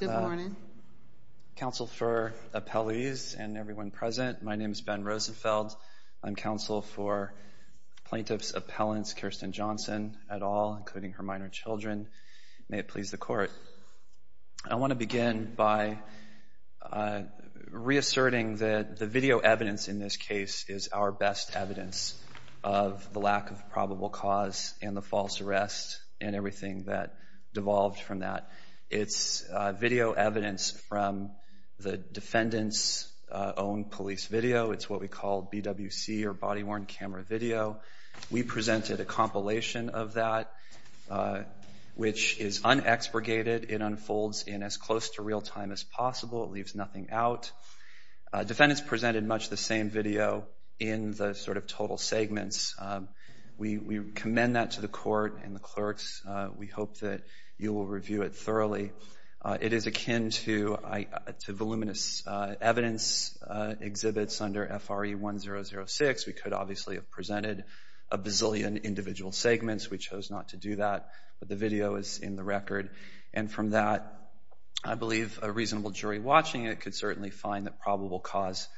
Good morning. Counsel for appellees and everyone present, my name is Ben Rosenfeld. I'm counsel for Plaintiff's Appellants Kirsten Johnson et al., including her minor children. May it please the Court. I want to begin by reasserting that the video evidence in this case is our best evidence of the lack of probable cause and the false arrest and everything that devolved from that. It's video evidence from the defendant's own police video. It's what we call BWC or body-worn camera video. We presented a compilation of that which is unexpurgated. It unfolds in as close to real time as possible. It leaves nothing out. Defendants presented much the same video in the sort of total segments. We commend that to the Court and the clerks. We hope that you will review it thoroughly. It is akin to voluminous evidence exhibits under F.R.E. 1006. We could obviously have presented a bazillion individual segments. We chose not to do that, but the video is in the record. And from that, I believe a reasonable jury watching it could certainly find that probable cause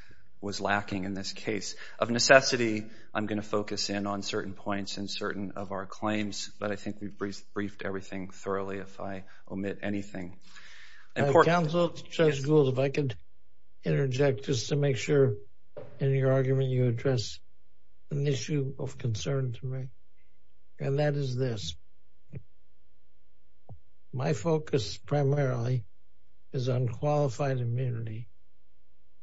was lacking in this case. Of necessity, I'm going to focus in on certain points and certain of our claims, but I think we've briefed everything thoroughly if I omit anything. Counsel, Judge Gould, if I could interject just to make sure in your argument you address an issue of concern to me, and that is this. My focus primarily is on qualified immunity.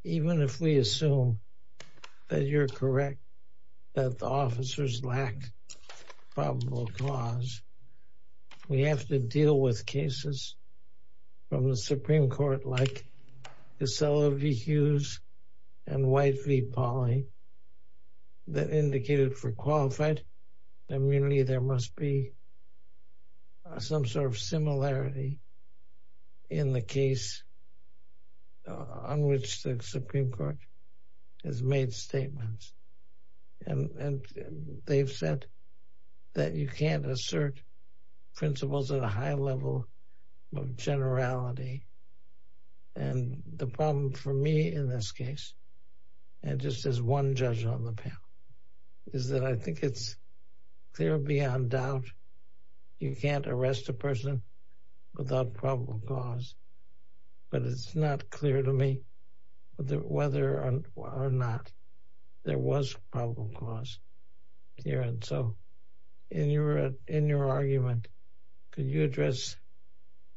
Even if we assume that you're correct that the officers lack probable cause, we have to deal with cases from the Supreme Court like Casella v. Hughes and White v. Pauley that indicated for qualified immunity there must be some sort of similarity in the case on which the Supreme Court has made statements. And they've said that you can't assert principles at a high level of generality. And the problem for me in this case, and just as one judge on the panel, is that I think it's clear beyond doubt you can't arrest a person without probable cause. But it's not clear to me whether or not there was probable cause here. And so in your argument, could you address,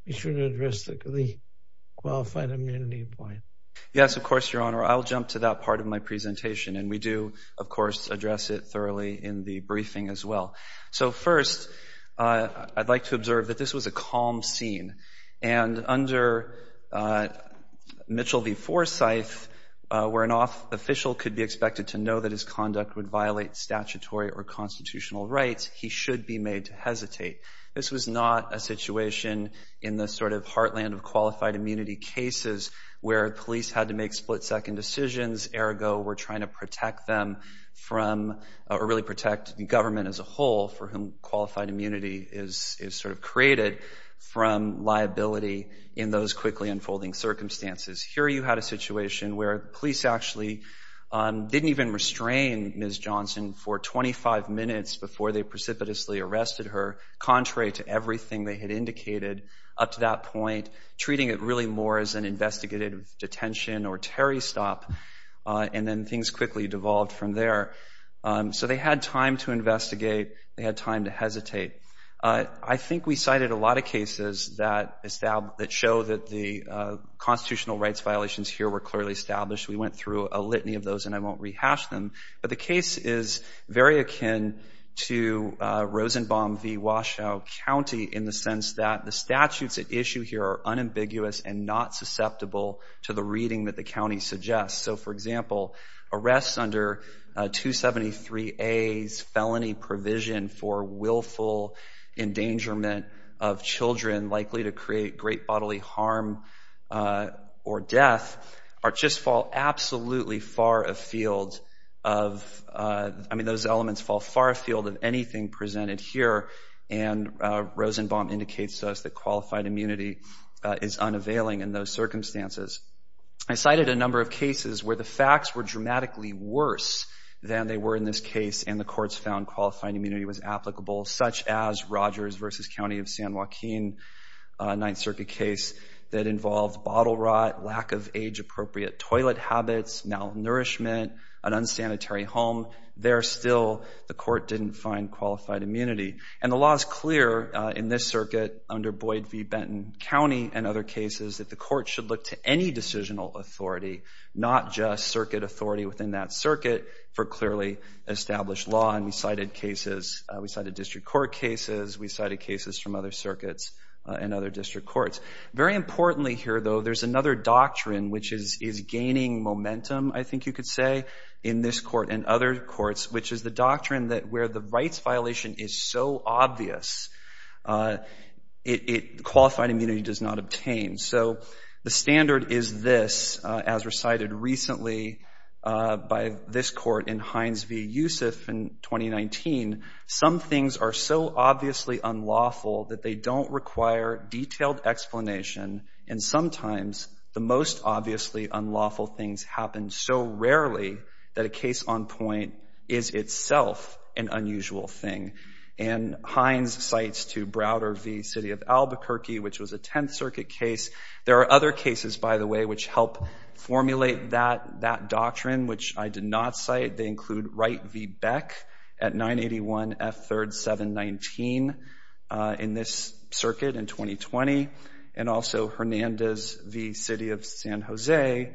you should address the qualified immunity point. Yes, of course, Your Honor. I'll jump to that part of my presentation, and we do, of course, address it thoroughly in the briefing as well. So first, I'd like to observe that this was a calm scene. And under Mitchell v. Forsyth, where an official could be expected to know that his conduct would violate statutory or constitutional rights, he should be made to hesitate. This was not a situation in the sort of heartland of qualified immunity cases where police had to make split-second decisions. Ergo, we're trying to protect them from, or really protect the government as a whole for whom qualified immunity is sort of created from liability in those quickly unfolding circumstances. Here you had a situation where police actually didn't even restrain Ms. Johnson for 25 minutes before they precipitously arrested her, contrary to everything they had indicated up to that point, treating it really more as an investigative detention or terry stop, and then things quickly devolved from there. So they had time to investigate. They had time to hesitate. I think we cited a lot of cases that show that the constitutional rights violations here were clearly established. We went through a litany of those, and I won't rehash them. But the case is very akin to Rosenbaum v. Washoe County in the sense that the statutes at issue here are unambiguous and not susceptible to the reading that the county suggests. So, for example, arrests under 273A's felony provision for willful endangerment of children likely to create great bodily harm or death just fall absolutely far afield of, I mean those elements fall far afield of anything presented here, and Rosenbaum indicates to us that qualified immunity is unavailing in those circumstances. I cited a number of cases where the facts were dramatically worse than they were in this case, and the courts found qualified immunity was applicable, such as Rogers v. County of San Joaquin Ninth Circuit case that involved bottle rot, lack of age-appropriate toilet habits, malnourishment, an unsanitary home. There, still, the court didn't find qualified immunity. And the law is clear in this circuit under Boyd v. Benton County and other cases that the court should look to any decisional authority, not just circuit authority within that circuit, for clearly established law. And we cited cases, we cited district court cases, we cited cases from other circuits and other district courts. Very importantly here, though, there's another doctrine which is gaining momentum, I think you could say, in this court and other courts, which is the doctrine that where the rights violation is so obvious, qualified immunity does not obtain. So the standard is this, as recited recently by this court in Hines v. Youssef in 2019, some things are so obviously unlawful that they don't require detailed explanation, and sometimes the most obviously unlawful things happen so rarely that a case on point is itself an unusual thing. And Hines cites to Browder v. City of Albuquerque, which was a Tenth Circuit case. There are other cases, by the way, which help formulate that doctrine, which I did not cite. They include Wright v. Beck at 981 F. 3rd 719 in this circuit in 2020, and also Hernandez v. City of San Jose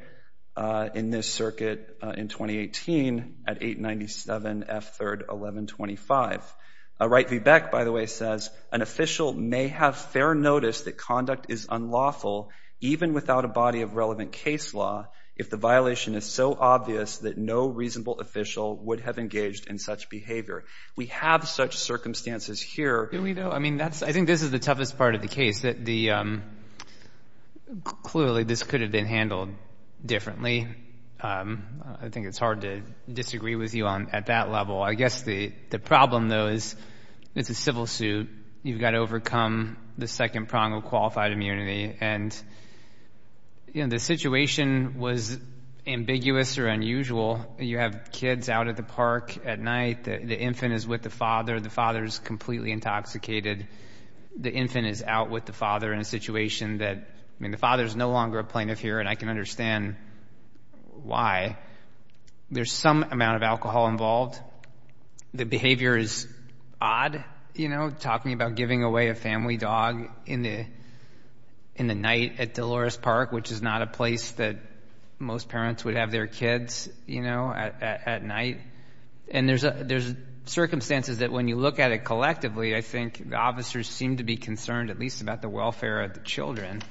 in this circuit in 2018 at 897 F. 3rd 1125. Wright v. Beck, by the way, says an official may have fair notice that conduct is unlawful even without a body of relevant case law if the violation is so obvious that no reasonable official would have engaged in such behavior. We have such circumstances here. I think this is the toughest part of the case. Clearly, this could have been handled differently. I think it's hard to disagree with you at that level. I guess the problem, though, is it's a civil suit. You've got to overcome the second prong of qualified immunity, and the situation was ambiguous or unusual. You have kids out at the park at night. The infant is with the father. The father is completely intoxicated. The infant is out with the father in a situation that, I mean, the father is no longer a plaintiff here, and I can understand why. There's some amount of alcohol involved. The behavior is odd, you know, talking about giving away a family dog in the night at Dolores Park, which is not a place that most parents would have their kids, you know, at night. And there's circumstances that when you look at it collectively, I think the officers seem to be concerned at least about the welfare of the children.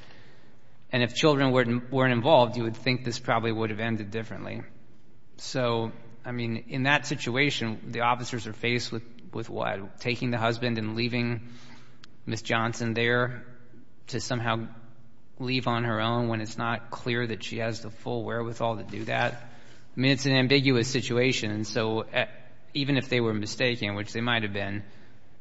And if children weren't involved, you would think this probably would have ended differently. So, I mean, in that situation, the officers are faced with what? Taking the husband and leaving Ms. Johnson there to somehow leave on her own when it's not clear that she has the full wherewithal to do that? I mean, it's an ambiguous situation. So even if they were mistaken, which they might have been,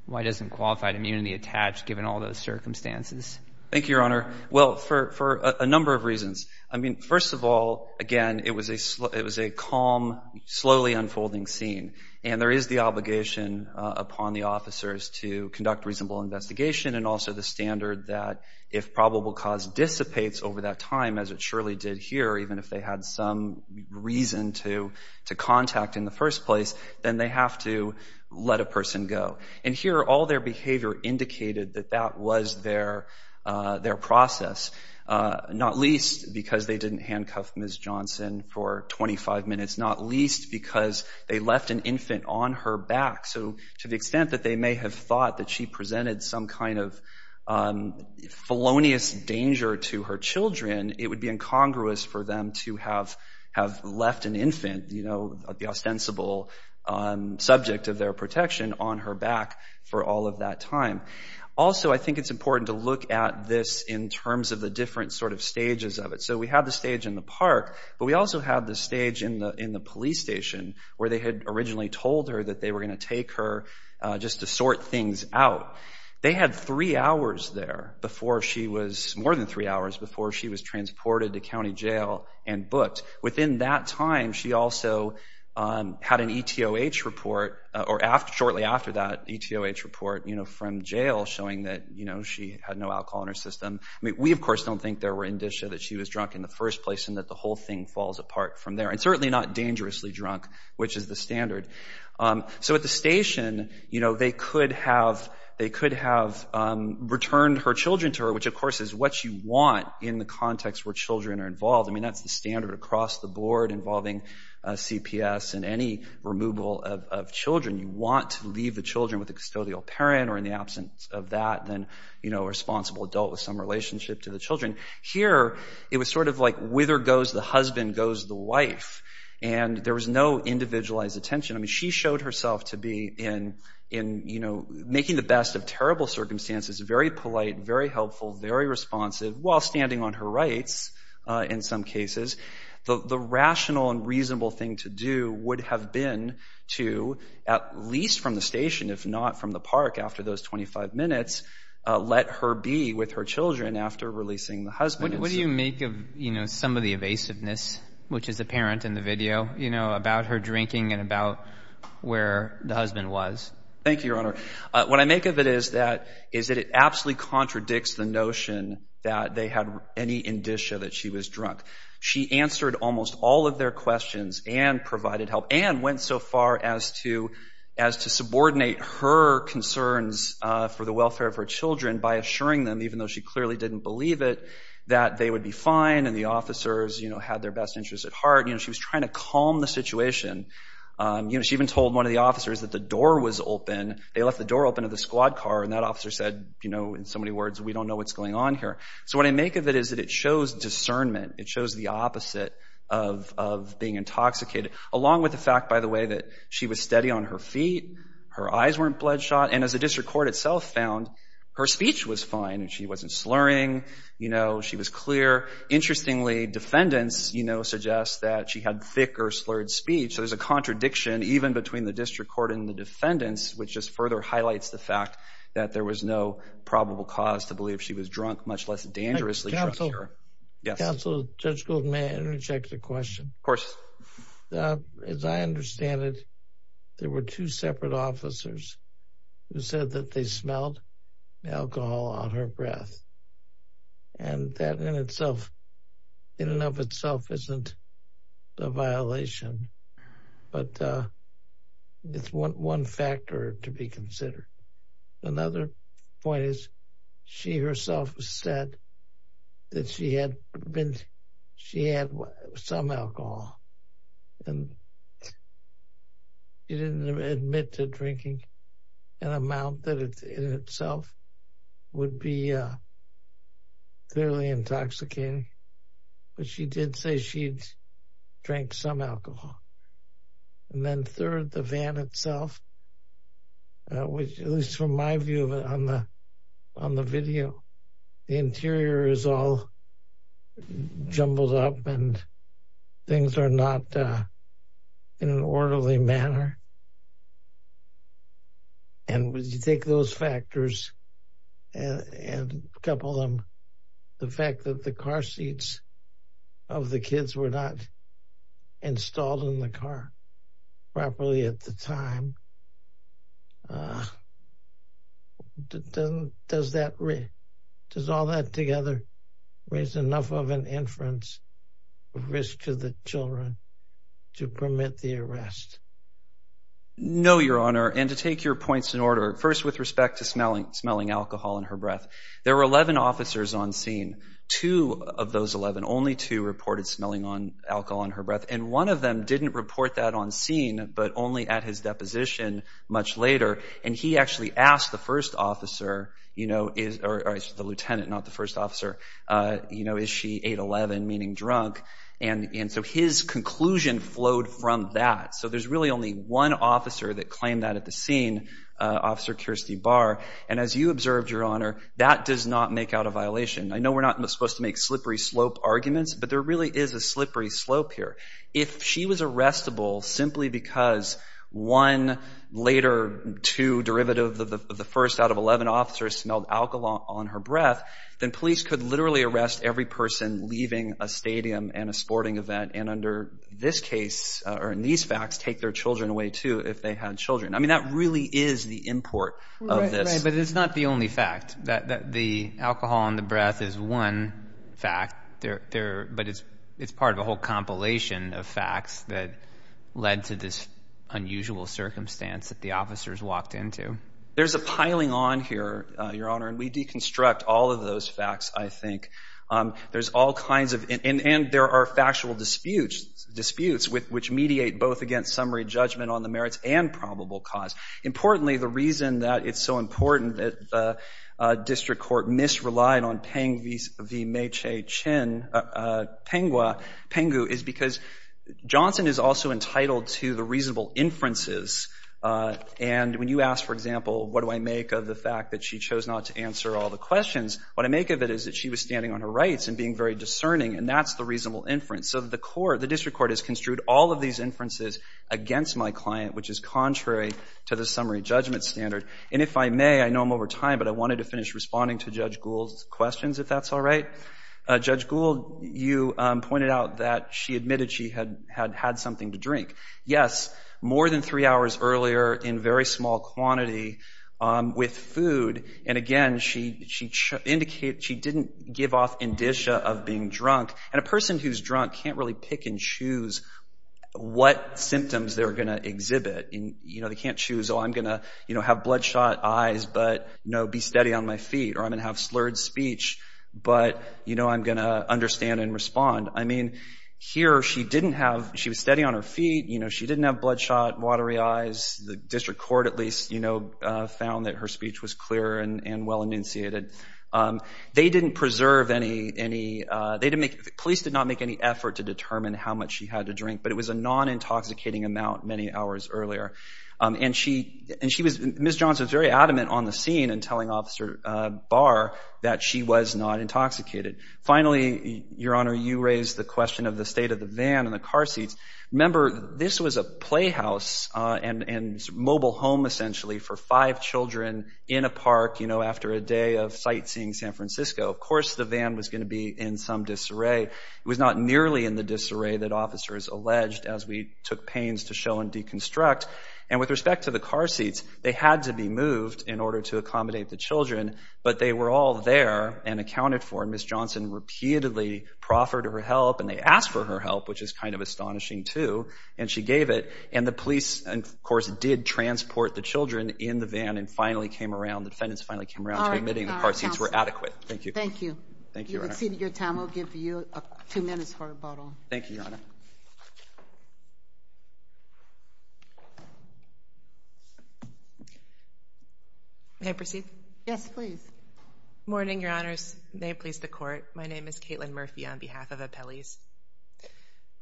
why doesn't qualified immunity attach given all those circumstances? Thank you, Your Honor. Well, for a number of reasons. I mean, first of all, again, it was a calm, slowly unfolding scene. And there is the obligation upon the officers to conduct reasonable investigation and also the standard that if probable cause dissipates over that time, as it surely did here, even if they had some reason to contact in the first place, then they have to let a person go. And here, all their behavior indicated that that was their process, not least because they didn't handcuff Ms. Johnson for 25 minutes, not least because they left an infant on her back. So to the extent that they may have thought that she presented some kind of felonious danger to her children, it would be incongruous for them to have left an infant, you know, the ostensible subject of their protection on her back for all of that time. Also, I think it's important to look at this in terms of the different sort of stages of it. So we have the stage in the park, but we also have the stage in the police station where they had originally told her that they were going to take her just to sort things out. They had three hours there before she was, more than three hours, before she was transported to county jail and booked. Within that time, she also had an ETOH report, or shortly after that ETOH report, you know, from jail showing that, you know, she had no alcohol in her system. I mean, we, of course, don't think there were indicia that she was drunk in the first place and that the whole thing falls apart from there, and certainly not dangerously drunk, which is the standard. So at the station, you know, they could have returned her children to her, which, of course, is what you want in the context where children are involved. I mean, that's the standard across the board involving CPS and any removal of children. You want to leave the children with a custodial parent, or in the absence of that, then, you know, a responsible adult with some relationship to the children. Here, it was sort of like wither goes the husband, goes the wife, and there was no individualized attention. I mean, she showed herself to be in, you know, making the best of terrible circumstances, very polite, very helpful, very responsive, while standing on her rights in some cases. The rational and reasonable thing to do would have been to, at least from the station, if not from the park after those 25 minutes, let her be with her children after releasing the husband. What do you make of, you know, some of the evasiveness, which is apparent in the video, you know, about her drinking and about where the husband was? Thank you, Your Honor. What I make of it is that it absolutely contradicts the notion that they had any indicia that she was drunk. She answered almost all of their questions and provided help and went so far as to subordinate her concerns for the welfare of her children by assuring them, even though she clearly didn't believe it, that they would be fine and the officers, you know, had their best interests at heart. You know, she was trying to calm the situation. You know, she even told one of the officers that the door was open. They left the door open of the squad car, and that officer said, you know, in so many words, we don't know what's going on here. So what I make of it is that it shows discernment. It shows the opposite of being intoxicated, along with the fact, by the way, that she was steady on her feet, her eyes weren't bloodshot, and as the district court itself found, her speech was fine. She wasn't slurring. You know, she was clear. Interestingly, defendants, you know, suggest that she had thick or slurred speech. So there's a contradiction even between the district court and the defendants, which just further highlights the fact that there was no probable cause to believe she was drunk, much less dangerously drunk. Counsel, Judge Gould, may I interject a question? Of course. As I understand it, there were two separate officers who said that they smelled alcohol on her breath, and that in and of itself isn't a violation, but it's one factor to be considered. Another point is she herself said that she had some alcohol, and she didn't admit to drinking an amount that in itself would be clearly intoxicating, but she did say she'd drank some alcohol. And then third, the van itself, at least from my view of it on the video, the interior is all jumbled up and things are not in an orderly manner. And when you take those factors and couple them, the fact that the car seats of the kids were not installed in the car properly at the time, does all that together raise enough of an inference of risk to the children to permit the arrest? No, Your Honor. And to take your points in order, first with respect to smelling alcohol on her breath, there were 11 officers on scene. Two of those 11, only two, reported smelling alcohol on her breath. And one of them didn't report that on scene, but only at his deposition much later. And he actually asked the first officer, or the lieutenant, not the first officer, is she 8-11, meaning drunk? And so his conclusion flowed from that. So there's really only one officer that claimed that at the scene, Officer Kirstie Barr. And as you observed, Your Honor, that does not make out a violation. I know we're not supposed to make slippery slope arguments, but there really is a slippery slope here. If she was arrestable simply because one, later two, derivative of the first out of 11 officers smelled alcohol on her breath, then police could literally arrest every person leaving a stadium and a sporting event, and under this case, or in these facts, take their children away too, if they had children. I mean, that really is the import of this. Right, but it's not the only fact. The alcohol on the breath is one fact, but it's part of a whole compilation of facts that led to this unusual circumstance that the officers walked into. There's a piling on here, Your Honor, and we deconstruct all of those facts, I think. There's all kinds of, and there are factual disputes, which mediate both against summary judgment on the merits and probable cause. Importantly, the reason that it's so important that the district court misrelied on Penghu is because Johnson is also entitled to the reasonable inferences, and when you ask, for example, what do I make of the fact that she chose not to answer all the questions, what I make of it is that she was standing on her rights and being very discerning, and that's the reasonable inference. So the district court has construed all of these inferences against my client, which is contrary to the summary judgment standard. And if I may, I know I'm over time, but I wanted to finish responding to Judge Gould's questions, if that's all right. Judge Gould, you pointed out that she admitted she had had something to drink. Yes, more than three hours earlier, in very small quantity, with food, and again, she didn't give off indicia of being drunk, and a person who's drunk can't really pick and choose what symptoms they're going to exhibit. They can't choose, oh, I'm going to have bloodshot eyes, but be steady on my feet, or I'm going to have slurred speech, but I'm going to understand and respond. Here, she was steady on her feet. She didn't have bloodshot, watery eyes. The district court, at least, found that her speech was clear and well-initiated. They didn't preserve any, they didn't make, the police did not make any effort to determine how much she had to drink, but it was a non-intoxicating amount many hours earlier. And she was, Ms. Johnson was very adamant on the scene in telling Officer Barr that she was not intoxicated. Finally, Your Honor, you raised the question of the state of the van and the car seats. Remember, this was a playhouse and mobile home, essentially, for five children in a park, you know, after a day of sightseeing San Francisco. Of course the van was going to be in some disarray. It was not nearly in the disarray that officers alleged as we took pains to show and deconstruct. And with respect to the car seats, they had to be moved in order to accommodate the children, but they were all there and accounted for. Ms. Johnson repeatedly proffered her help, and they asked for her help, which is kind of astonishing too, and she gave it. And the police, of course, did transport the children in the van and finally came around, the defendants finally came around to admitting the car seats were adequate. Thank you. Thank you. You've exceeded your time. We'll give you two minutes for a vote on. Thank you, Your Honor. May I proceed? Yes, please. Good morning, Your Honors. May it please the Court. My name is Caitlin Murphy on behalf of Appellees.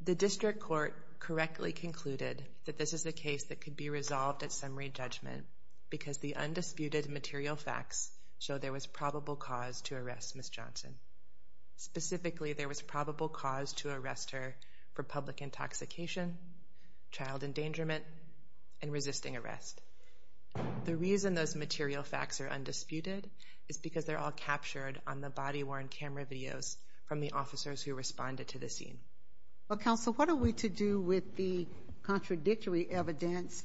The District Court correctly concluded that this is a case that could be resolved at summary judgment because the undisputed material facts show there was probable cause to arrest Ms. Johnson. Specifically, there was probable cause to arrest her for public intoxication, child endangerment, and resisting arrest. The reason those material facts are undisputed is because they're all captured on the body-worn camera videos from the officers who responded to the scene. Well, Counsel, what are we to do with the contradictory evidence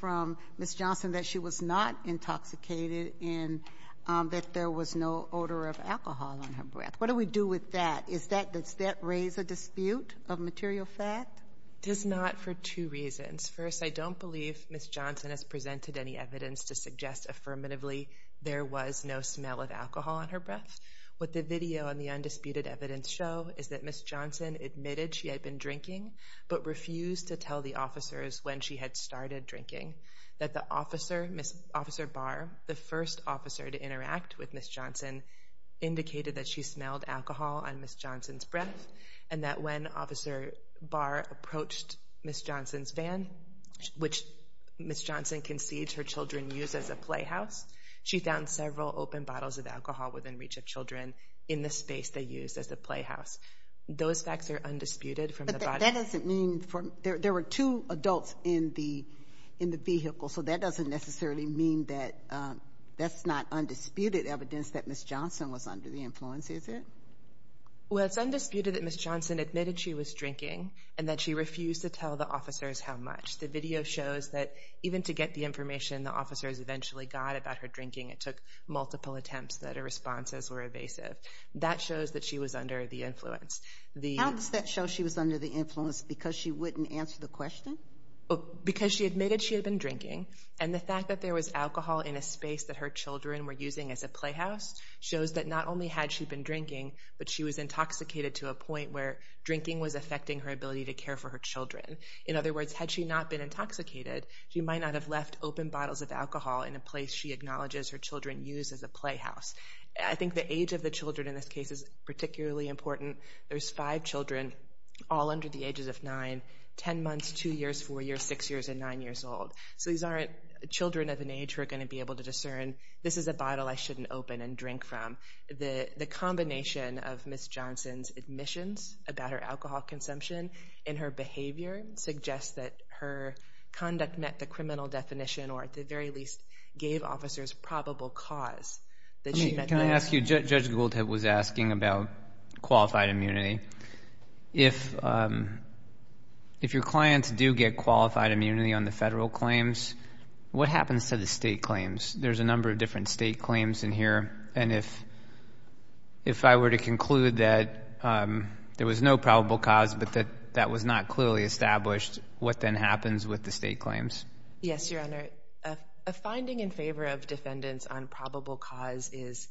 from Ms. Johnson that she was not intoxicated and that there was no odor of alcohol on her breath? What do we do with that? Does that raise a dispute of material fact? It does not for two reasons. First, I don't believe Ms. Johnson has presented any evidence to suggest affirmatively there was no smell of alcohol on her breath. What the video and the undisputed evidence show is that Ms. Johnson admitted she had been drinking but refused to tell the officers when she had started drinking, that Officer Barr, the first officer to interact with Ms. Johnson, indicated that she smelled alcohol on Ms. Johnson's breath which Ms. Johnson concedes her children use as a playhouse. She found several open bottles of alcohol within reach of children in the space they used as a playhouse. Those facts are undisputed from the body-worn camera. But that doesn't mean there were two adults in the vehicle, so that doesn't necessarily mean that that's not undisputed evidence that Ms. Johnson was under the influence, is it? Well, it's undisputed that Ms. Johnson admitted she was drinking and that she refused to tell the officers how much. The video shows that even to get the information the officers eventually got about her drinking, it took multiple attempts, that her responses were evasive. That shows that she was under the influence. How does that show she was under the influence? Because she wouldn't answer the question? Because she admitted she had been drinking, and the fact that there was alcohol in a space that her children were using as a playhouse shows that not only had she been drinking, but she was intoxicated to a point where drinking was affecting her ability to care for her children. In other words, had she not been intoxicated, she might not have left open bottles of alcohol in a place she acknowledges her children use as a playhouse. I think the age of the children in this case is particularly important. There's five children, all under the ages of nine, ten months, two years, four years, six years, and nine years old. So these aren't children of an age who are going to be able to discern, this is a bottle I shouldn't open and drink from. The combination of Ms. Johnson's admissions about her alcohol consumption and her behavior suggests that her conduct met the criminal definition or at the very least gave officers probable cause that she met those. Can I ask you, Judge Gould was asking about qualified immunity. If your clients do get qualified immunity on the federal claims, what happens to the state claims? There's a number of different state claims in here, and if I were to conclude that there was no probable cause but that that was not clearly established, what then happens with the state claims? Yes, Your Honor. A finding in favor of defendants on probable cause is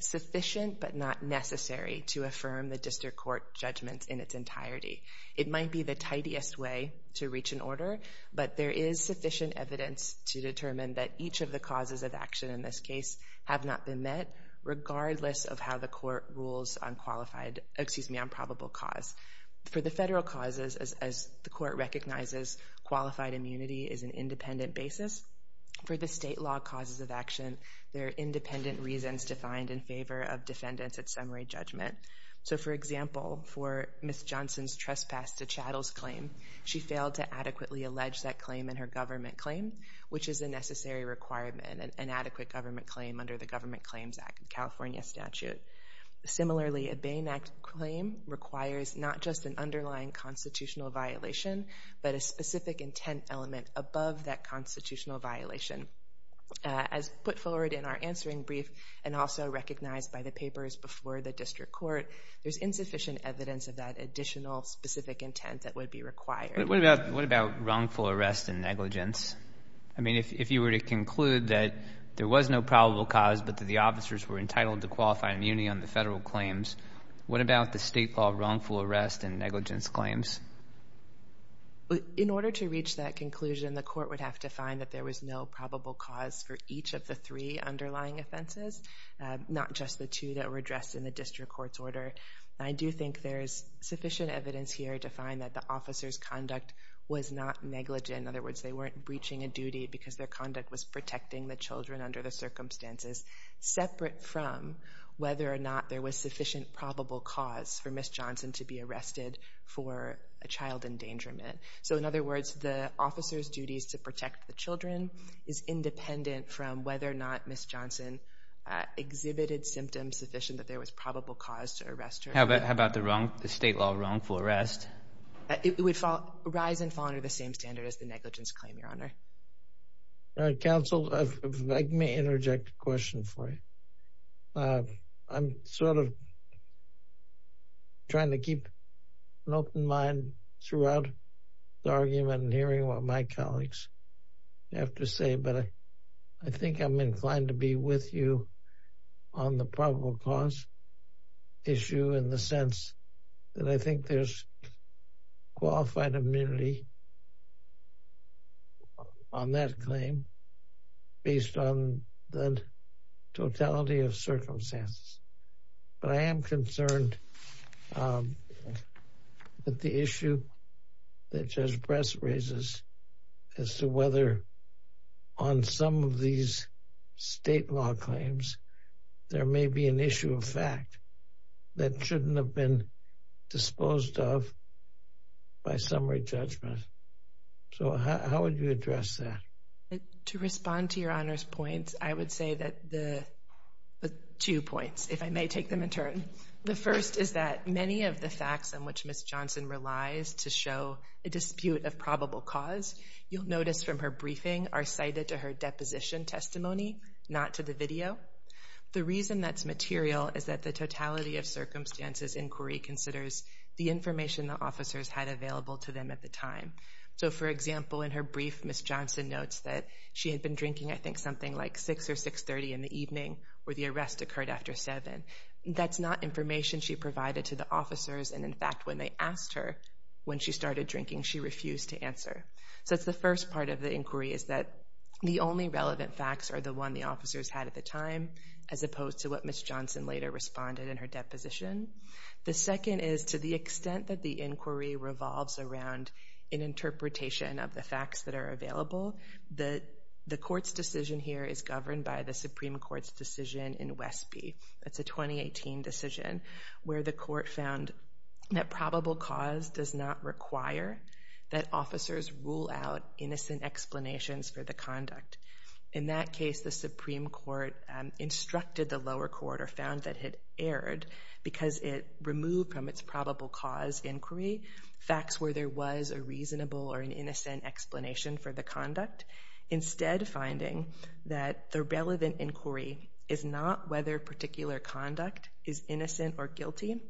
sufficient but not necessary to affirm the district court judgment in its entirety. It might be the tidiest way to reach an order, but there is sufficient evidence to determine that each of the causes of action in this case have not been met regardless of how the court rules on probable cause. For the federal causes, as the court recognizes, qualified immunity is an independent basis. For the state law causes of action, there are independent reasons defined in favor of defendants at summary judgment. So, for example, for Ms. Johnson's trespass to Chattel's claim, she failed to adequately allege that claim in her government claim, which is a necessary requirement, an adequate government claim under the Government Claims Act of California statute. Similarly, a Bain Act claim requires not just an underlying constitutional violation but a specific intent element above that constitutional violation. As put forward in our answering brief and also recognized by the papers before the district court, there's insufficient evidence of that additional specific intent that would be required. What about wrongful arrest and negligence? I mean, if you were to conclude that there was no probable cause but that the officers were entitled to qualified immunity on the federal claims, what about the state law wrongful arrest and negligence claims? In order to reach that conclusion, the court would have to find that there was no probable cause for each of the three underlying offenses, not just the two that were addressed in the district court's order. And I do think there is sufficient evidence here to find that the officers' conduct was not negligent. In other words, they weren't breaching a duty because their conduct was protecting the children under the circumstances, separate from whether or not there was sufficient probable cause for Ms. Johnson to be arrested for a child endangerment. So, in other words, the officers' duties to protect the children is independent from whether or not Ms. Johnson exhibited symptoms sufficient that there was probable cause to arrest her. How about the state law wrongful arrest? It would rise and fall under the same standard as the negligence claim, Your Honor. Counsel, let me interject a question for you. I'm sort of trying to keep an open mind throughout the argument and hearing what my colleagues have to say, but I think I'm inclined to be with you on the probable cause issue in the sense that I think there's qualified immunity on that claim based on the totality of circumstances. But I am concerned that the issue that Judge Press raises as to whether on some of these state law claims there may be an issue of fact that shouldn't have been disposed of by summary judgment. So how would you address that? To respond to Your Honor's points, I would say that the two points, if I may take them in turn. The first is that many of the facts on which Ms. Johnson relies to show a dispute of probable cause, you'll notice from her briefing are cited to her deposition testimony, not to the video. The reason that's material is that the totality of circumstances inquiry considers the information the officers had available to them at the time. So, for example, in her brief, Ms. Johnson notes that she had been drinking, I think, something like 6 or 6.30 in the evening where the arrest occurred after 7. That's not information she provided to the officers, and, in fact, when they asked her when she started drinking, she refused to answer. So that's the first part of the inquiry is that the only relevant facts are the one the officers had at the time, as opposed to what Ms. Johnson later responded in her deposition. The second is to the extent that the inquiry revolves around an interpretation of the facts that are available, the court's decision here is governed by the Supreme Court's decision in Westby. That's a 2018 decision where the court found that probable cause does not require that officers rule out innocent explanations for the conduct. In that case, the Supreme Court instructed the lower court or found that it erred because it removed from its probable cause inquiry facts where there was a reasonable or an innocent explanation for the conduct, instead finding that the relevant inquiry is not whether particular conduct is innocent or guilty,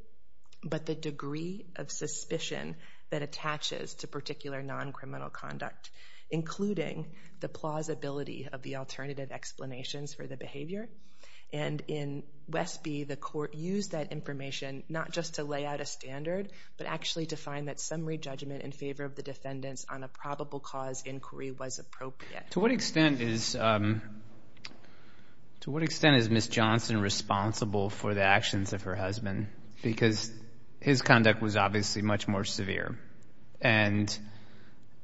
but the degree of suspicion that attaches to particular non-criminal conduct, including the plausibility of the alternative explanations for the behavior. And in Westby, the court used that information not just to lay out a standard, but actually to find that summary judgment in favor of the defendants on a probable cause inquiry was appropriate. To what extent is Ms. Johnson responsible for the actions of her husband? Because his conduct was obviously much more severe. And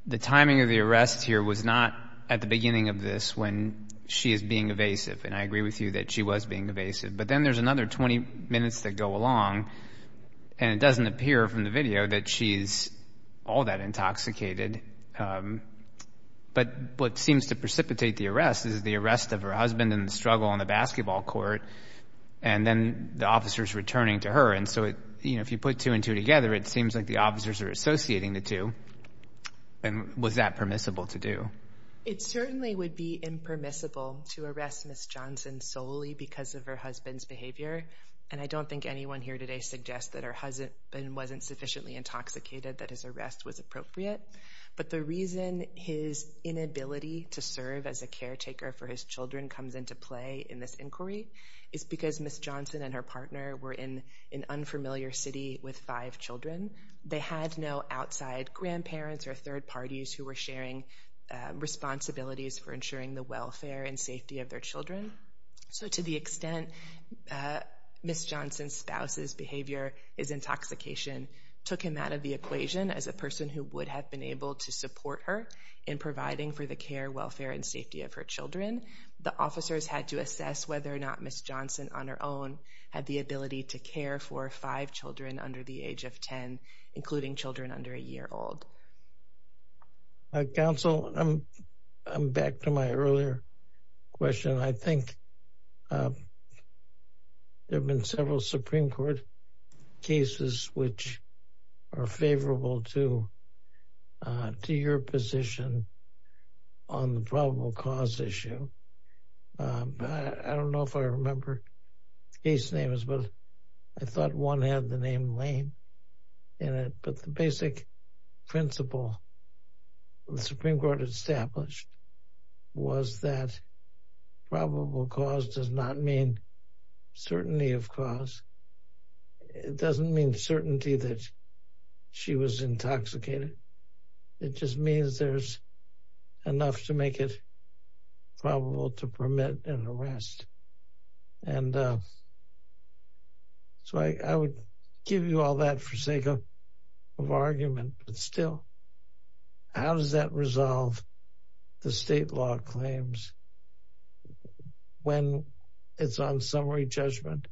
the timing of the arrest here was not at the beginning of this when she is being evasive, and I agree with you that she was being evasive. But then there's another 20 minutes that go along, and it doesn't appear from the video that she's all that intoxicated. But what seems to precipitate the arrest is the arrest of her husband in the struggle on the basketball court, and then the officers returning to her. And so if you put two and two together, it seems like the officers are associating the two. And was that permissible to do? It certainly would be impermissible to arrest Ms. Johnson solely because of her husband's behavior, and I don't think anyone here today suggests that her husband wasn't sufficiently intoxicated that his arrest was appropriate. But the reason his inability to serve as a caretaker for his children comes into play in this inquiry is because Ms. Johnson and her partner were in an unfamiliar city with five children. They had no outside grandparents or third parties who were sharing responsibilities for ensuring the welfare and safety of their children. So to the extent Ms. Johnson's spouse's behavior is intoxication took him out of the equation as a person who would have been able to support her in providing for the care, welfare, and safety of her children. The officers had to assess whether or not Ms. Johnson on her own had the ability to care for five children under the age of 10, including children under a year old. Counsel, I'm back to my earlier question. I think there have been several Supreme Court cases which are favorable to your position on the probable cause issue. I don't know if I remember the case names, but I thought one had the name Lane in it. But the basic principle the Supreme Court established was that probable cause does not mean certainty of cause. It doesn't mean certainty that she was intoxicated. It just means there's enough to make it probable to permit an arrest. And so I would give you all that for sake of argument, but still, how does that resolve the state law claims when it's on summary judgment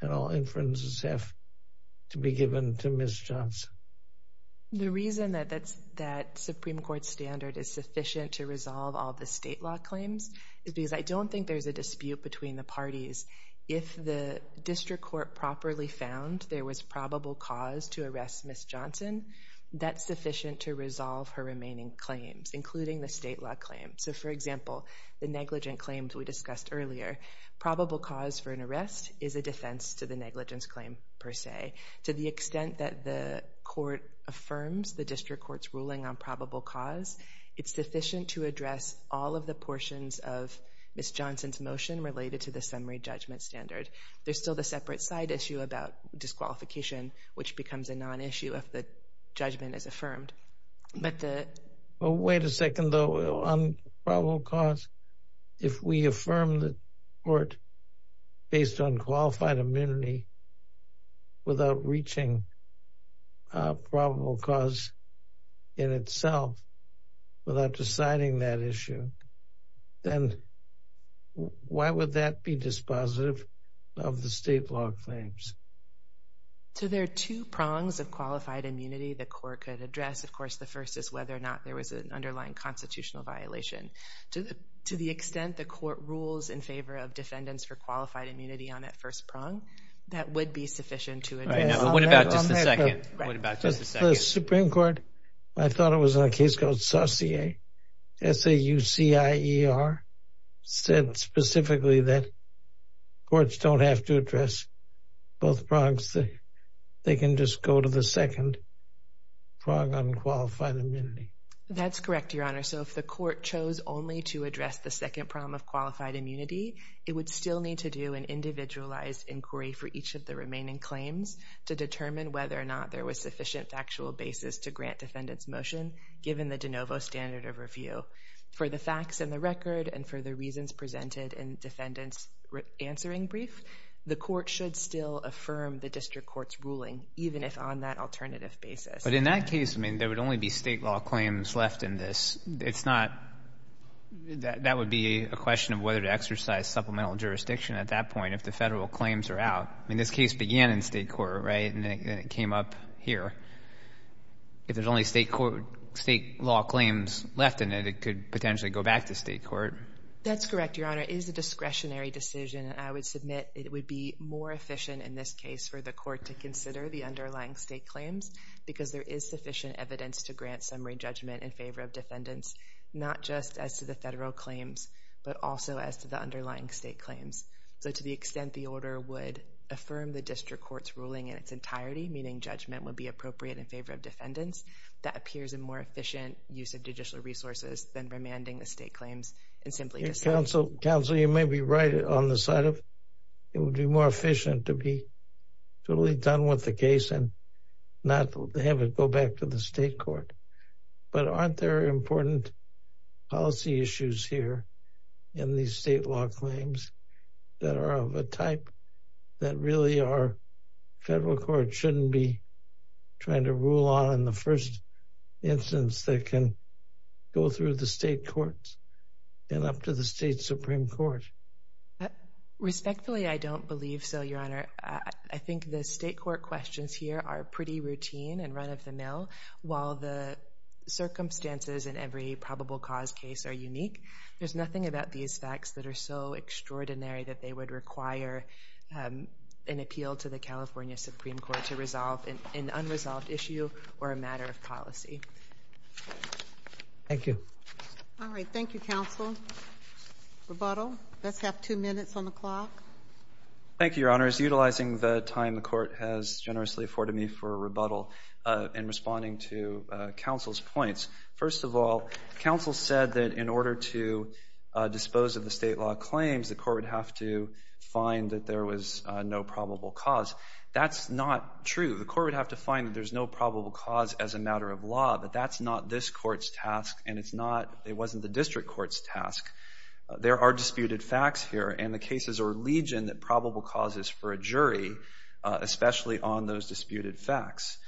and all inferences have to be given to Ms. Johnson? The reason that that Supreme Court standard is sufficient to resolve all the state law claims is because I don't think there's a dispute between the parties. If the district court properly found there was probable cause to arrest Ms. Johnson, that's sufficient to resolve her remaining claims, including the state law claims. So, for example, the negligent claims we discussed earlier, probable cause for an arrest is a defense to the negligence claim per se. To the extent that the court affirms the district court's ruling on probable cause, it's sufficient to address all of the portions of Ms. Johnson's motion related to the summary judgment standard. There's still the separate side issue about disqualification, which becomes a non-issue if the judgment is affirmed. Wait a second, though. On probable cause, if we affirm the court based on qualified immunity without reaching probable cause in itself, without deciding that issue, then why would that be dispositive of the state law claims? There are two prongs of qualified immunity the court could address. Of course, the first is whether or not there was an underlying constitutional violation. To the extent the court rules in favor of defendants for qualified immunity on that first prong, that would be sufficient to address all that. What about just the second? The Supreme Court, I thought it was on a case called Saucier, S-A-U-C-I-E-R, said specifically that courts don't have to address both prongs. They can just go to the second prong on qualified immunity. That's correct, Your Honor. If the court chose only to address the second prong of qualified immunity, it would still need to do an individualized inquiry for each of the remaining claims to determine whether or not there was sufficient factual basis to grant defendants' motion, given the de novo standard of review. For the facts in the record and for the reasons presented in defendant's answering brief, the court should still affirm the district court's ruling, even if on that alternative basis. But in that case, I mean, there would only be state law claims left in this. It's not – that would be a question of whether to exercise supplemental jurisdiction at that point if the federal claims are out. I mean, this case began in state court, right, and then it came up here. If there's only state law claims left in it, it could potentially go back to state court. That's correct, Your Honor. It is a discretionary decision, and I would submit it would be more efficient in this case for the court to consider the underlying state claims, because there is sufficient evidence to grant summary judgment in favor of defendants, not just as to the federal claims, but also as to the underlying state claims. So to the extent the order would affirm the district court's ruling in its entirety, meaning judgment would be appropriate in favor of defendants, that appears a more efficient use of judicial resources than remanding the state claims and simply disowns it. Counsel, you may be right on the side of it would be more efficient to be totally done with the case and not have it go back to the state court. But aren't there important policy issues here in these state law claims that are of a type that really our federal court shouldn't be trying to rule on in the first instance that can go through the state courts and up to the state Supreme Court? Respectfully, I don't believe so, Your Honor. I think the state court questions here are pretty routine and run of the mill, while the circumstances in every probable cause case are unique. There's nothing about these facts that are so extraordinary that they would require an appeal to the California Supreme Court to resolve an unresolved issue or a matter of policy. Thank you. All right, thank you, counsel. Rebuttal? Let's have two minutes on the clock. Thank you, Your Honor. Utilizing the time the court has generously afforded me for rebuttal in responding to counsel's points, first of all, counsel said that in order to dispose of the state law claims, the court would have to find that there was no probable cause. That's not true. The court would have to find that there's no probable cause as a matter of law, but that's not this court's task, and it wasn't the district court's task. There are disputed facts here, and the cases are legion that probable cause is for a jury, especially on those disputed facts.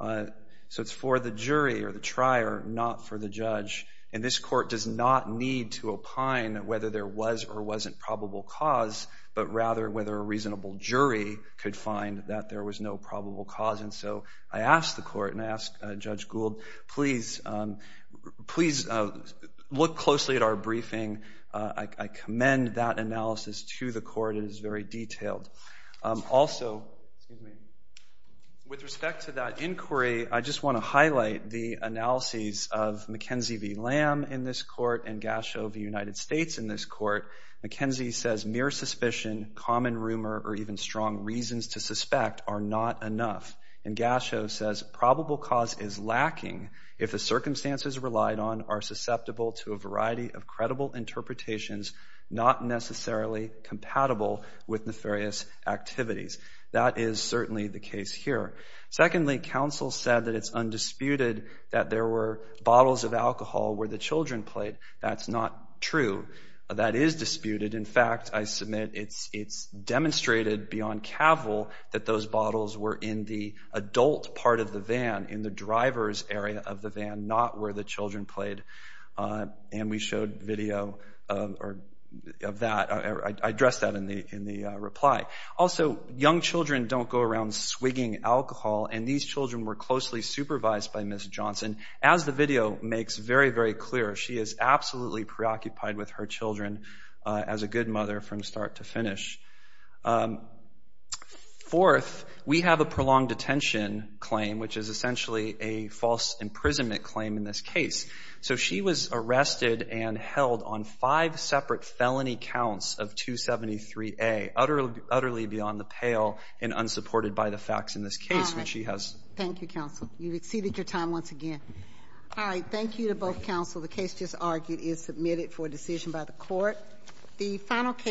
So it's for the jury or the trier, not for the judge, and this court does not need to opine whether there was or wasn't probable cause, but rather whether a reasonable jury could find that there was no probable cause. And so I ask the court and I ask Judge Gould, please look closely at our briefing. I commend that analysis to the court. It is very detailed. Also, with respect to that inquiry, I just want to highlight the analyses of McKenzie v. Lamb in this court and Gasho v. United States in this court. McKenzie says mere suspicion, common rumor, or even strong reasons to suspect are not enough. And Gasho says probable cause is lacking if the circumstances relied on are susceptible to a variety of credible interpretations not necessarily compatible with nefarious activities. That is certainly the case here. Secondly, counsel said that it's undisputed that there were bottles of alcohol where the children played. That's not true. That is disputed. In fact, I submit it's demonstrated beyond cavil that those bottles were in the adult part of the van, in the driver's area of the van, not where the children played. And we showed video of that. I addressed that in the reply. Also, young children don't go around swigging alcohol, and these children were closely supervised by Ms. Johnson. As the video makes very, very clear, she is absolutely preoccupied with her children as a good mother from start to finish. Fourth, we have a prolonged detention claim, which is essentially a false imprisonment claim in this case. So she was arrested and held on five separate felony counts of 273A, utterly beyond the pale and unsupported by the facts in this case. All right. Thank you, counsel. You've exceeded your time once again. All right, thank you to both counsel. The case just argued is submitted for decision by the court.